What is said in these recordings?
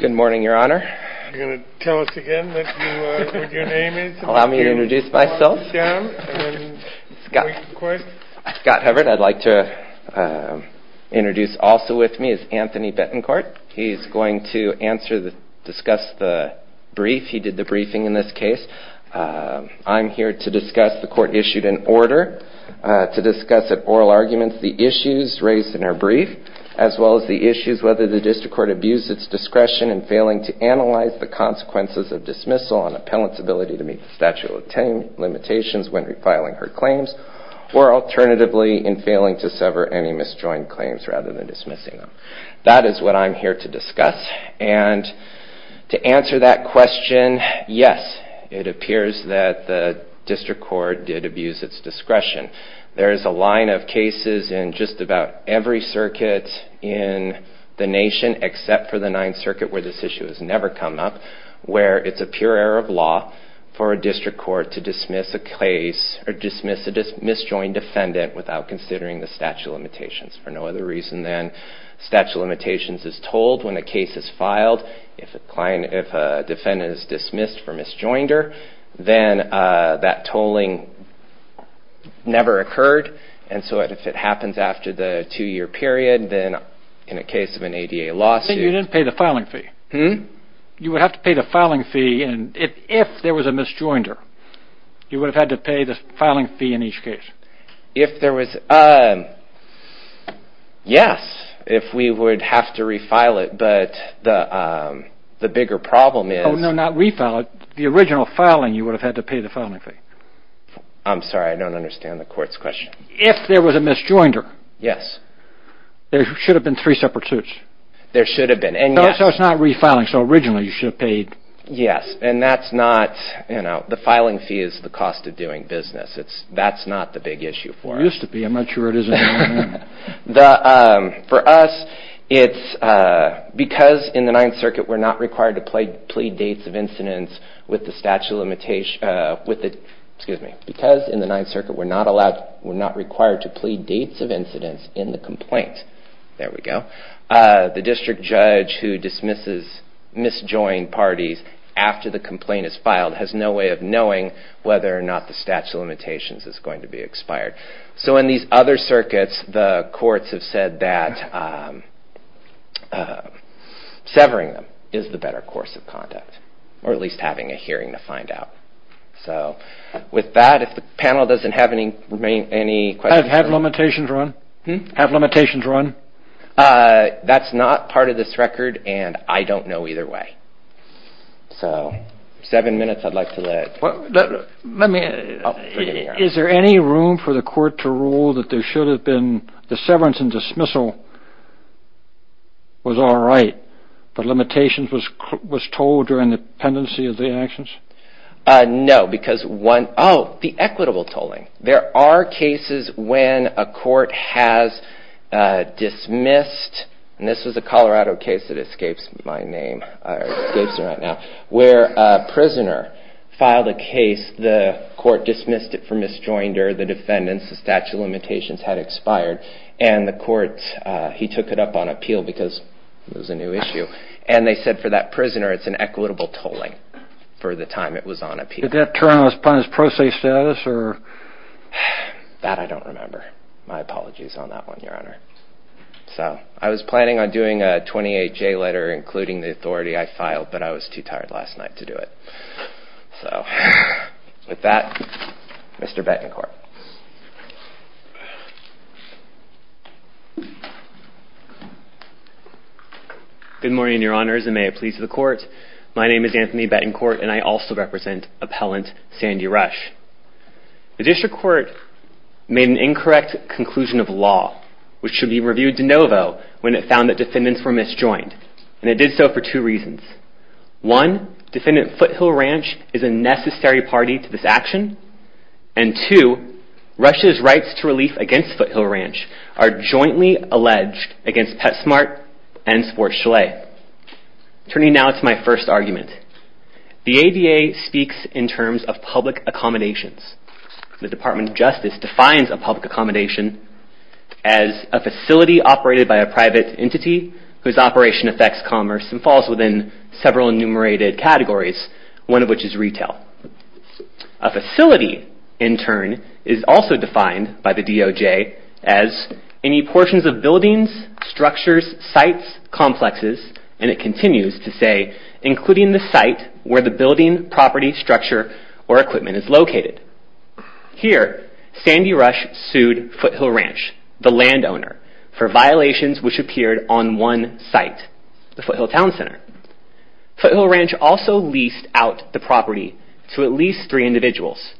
Good morning, Your Honor. You're going to tell us again what your name is? Allow me to introduce myself. Scott Hubbard I'd like to introduce also with me is Anthony Betancourt. He's going to discuss the brief. He did the briefing in this case. I'm here to discuss the court issued an order to discuss at oral arguments the issues raised in our brief as well as the issues whether the district court abused its discretion in failing to analyze the consequences of dismissal on an appellant's ability to meet the statute of limitations when refiling her claims or alternatively in failing to sever any misjoined claims rather than dismissing them. That is what I'm here to discuss. And to answer that question, yes, it appears that the district court did abuse its discretion. There is a line of cases in just about every circuit in the nation except for the Ninth Circuit where this issue has never come up where it's a pure error of law for a district court to dismiss a case or dismiss a misjoined defendant without considering the statute of limitations. For no other reason than statute of limitations is told when a case is filed. If a defendant is dismissed for misjoinder, then that tolling never occurred. And so if it happens after the two-year period, then in a case of an ADA lawsuit... You didn't pay the filing fee. You would have to pay the filing fee if there was a misjoinder. You would have had to pay the filing fee in each case. If there was... Yes, if we would have to refile it, but the bigger problem is... Oh, no, not refile it. The original filing, you would have had to pay the filing fee. I'm sorry, I don't understand the court's question. If there was a misjoinder, there should have been three separate suits. There should have been, and yes. So it's not refiling, so originally you should have paid. Yes, and that's not, you know, the filing fee is the cost of doing business. That's not the big issue for us. It used to be. I'm not sure it is anymore. For us, it's because in the Ninth Circuit we're not required to plead dates of incidents with the statute of limitations... Excuse me, because in the Ninth Circuit we're not allowed, we're not required to plead dates of incidents in the complaint. There we go. The district judge who dismisses misjoined parties after the complaint is filed has no way of knowing whether or not the statute of limitations is going to be expired. So in these other circuits, the courts have said that severing them is the better course of conduct, or at least having a hearing to find out. So with that, if the panel doesn't have any questions... Have limitations run? That's not part of this record, and I don't know either way. So seven minutes I'd like to let... Let me... Is there any room for the court to rule that there should have been... The severance and dismissal was all right, but limitations was told during the pendency of the actions? No, because one... Oh, the equitable tolling. There are cases when a court has dismissed, and this was a Colorado case that escapes my name, or escapes me right now, where a prisoner filed a case, the court dismissed it for misjoinder, the defendants, the statute of limitations had expired, and the court, he took it up on appeal because it was a new issue, and they said for that prisoner it's an equitable tolling for the time it was on appeal. Did that turn on his process status, or... That I don't remember. My apologies on that one, Your Honor. So I was planning on doing a 28-J letter including the authority I filed, but I was too tired last night to do it. So with that, Mr. Betancourt. Good morning, Your Honors, and may it please the court. My name is Anthony Betancourt, and I also represent Appellant Sandy Rush. The district court made an incorrect conclusion of law, which should be reviewed de novo when it found that defendants were misjoined, and it did so for two reasons. One, Defendant Foothill Ranch is a necessary party to this action, and two, Rush's rights to relief against Foothill Ranch are jointly alleged against Petsmart and Sports Chalet. Turning now to my first argument. The ADA speaks in terms of public accommodations. The Department of Justice defines a public accommodation as a facility operated by a private entity whose operation affects commerce and falls within several enumerated categories, one of which is retail. A facility, in turn, is also defined by the DOJ as any portions of buildings, structures, sites, complexes, and it continues to say, including the site where the building, property, structure, or equipment is located. Here, Sandy Rush sued Foothill Ranch, the landowner, for violations which appeared on one site, the Foothill Town Center. Foothill Ranch also leased out the property to at least three individuals,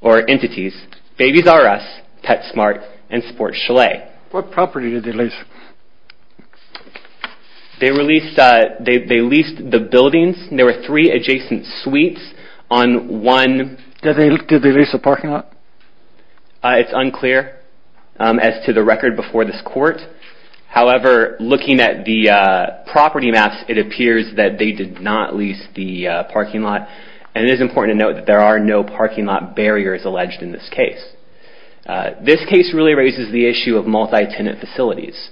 or entities, Babies R Us, Petsmart, and Sports Chalet. What property did they lease? They leased the buildings. There were three adjacent suites on one... Did they lease the parking lot? It's unclear as to the record before this court. However, looking at the property maps, it appears that they did not lease the parking lot, and it is important to note that there are no parking lot barriers alleged in this case. This case really raises the issue of multi-tenant facilities,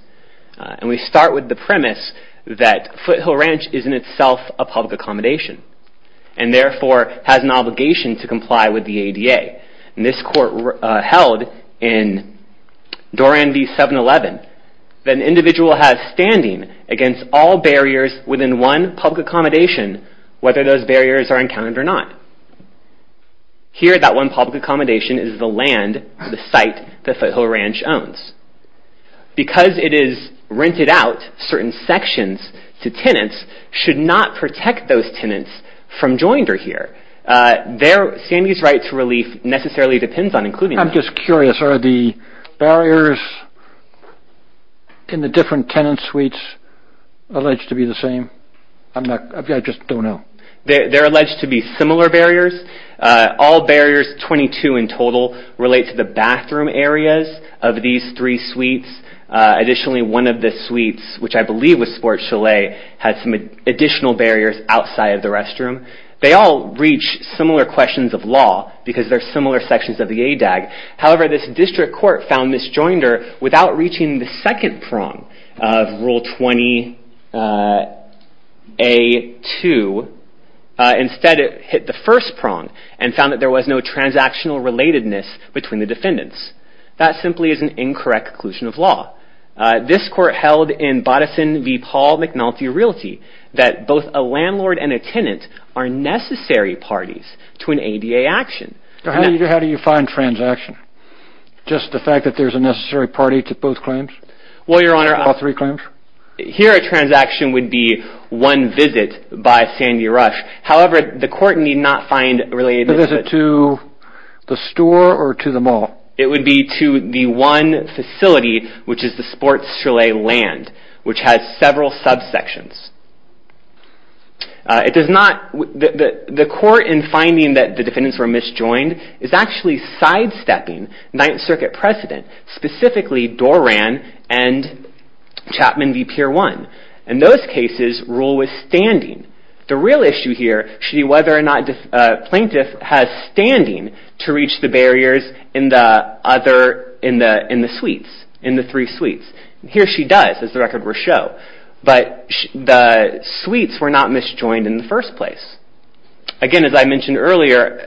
and we start with the premise that Foothill Ranch is in itself a public accommodation, and therefore has an obligation to comply with the ADA. This court held in Doran v. 711 that an individual has standing against all barriers within one public accommodation, whether those barriers are encountered or not. Here, that one public accommodation is the land, the site, that Foothill Ranch owns. Because it is rented out, certain sections to tenants should not protect those tenants from joinder here. Sandy's right to relief necessarily depends on including that. I'm just curious. Are the barriers in the different tenant suites alleged to be the same? I just don't know. They're alleged to be similar barriers. All barriers, 22 in total, relate to the bathroom areas of these three suites. Additionally, one of the suites, which I believe was Sports Chalet, had some additional barriers outside of the restroom. They all reach similar questions of law because they're similar sections of the ADAG. However, this district court found this joinder without reaching the second prong of Rule 20A2, instead it hit the first prong and found that there was no transactional relatedness between the defendants. That simply is an incorrect conclusion of law. This court held in Boddison v. Paul McNulty Realty that both a landlord and a tenant are necessary parties to an ADA action. How do you find transaction? Just the fact that there's a necessary party to both claims? Well, Your Honor... All three claims? Here a transaction would be one visit by Sandy Rush. However, the court need not find related... A visit to the store or to the mall? It would be to the one facility, which is the Sports Chalet land, which has several subsections. It does not... The court, in finding that the defendants were misjoined, is actually sidestepping Ninth Circuit precedent, specifically Doran and Chapman v. Pier 1. In those cases, Rule was standing. The real issue here should be whether or not a plaintiff has standing to reach the barriers in the other... in the suites, in the three suites. Here she does, as the records show. But the suites were not misjoined in the first place. Again, as I mentioned earlier,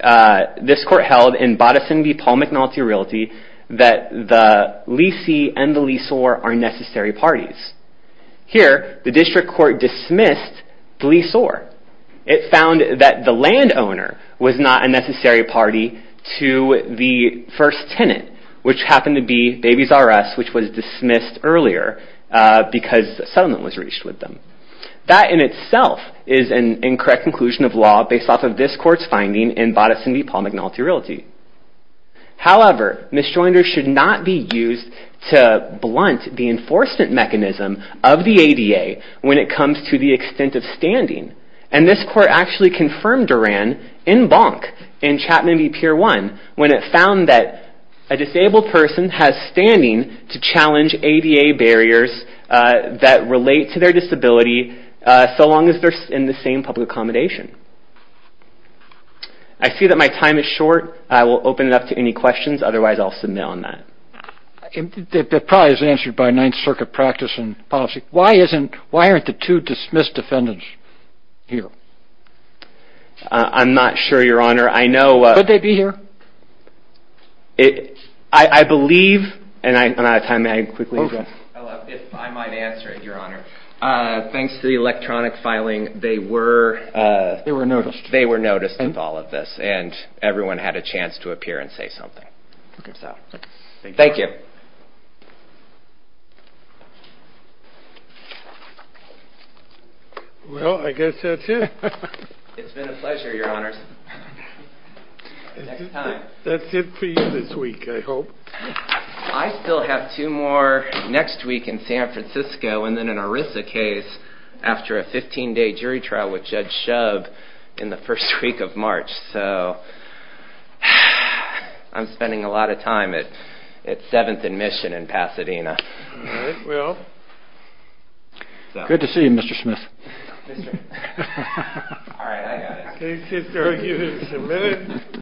this court held in Boddison v. Paul McNulty Realty that the leasee and the leasor are necessary parties. Here, the district court dismissed the leasor. It found that the landowner was not a necessary party to the first tenant, which happened to be Babies R.S., which was dismissed earlier because settlement was reached with them. That in itself is an incorrect conclusion of law based off of this court's finding in Boddison v. Paul McNulty Realty. However, misjoiners should not be used to blunt the enforcement mechanism of the ADA when it comes to the extent of standing. And this court actually confirmed Doran in Bonk, in Chapman v. Pier 1, when it found that a disabled person has standing to challenge ADA barriers that relate to their disability so long as they're in the same public accommodation. I see that my time is short. I will open it up to any questions. Otherwise, I'll submit on that. That probably isn't answered by Ninth Circuit practice and policy. Why aren't the two dismissed defendants here? I'm not sure, Your Honor. Could they be here? I believe, and I'm out of time. If I might answer it, Your Honor. Thanks to the electronic filing, they were noticed of all of this, and everyone had a chance to appear and say something. Thank you. Well, I guess that's it. It's been a pleasure, Your Honors. Next time. That's it for you this week, I hope. I still have two more next week in San Francisco, and then an ERISA case after a 15-day jury trial with Judge Shub in the first week of March. So I'm spending a lot of time at 7th and Mission in Pasadena. All right, well, good to see you, Mr. Smith. Mr. Smith. All right, I got it.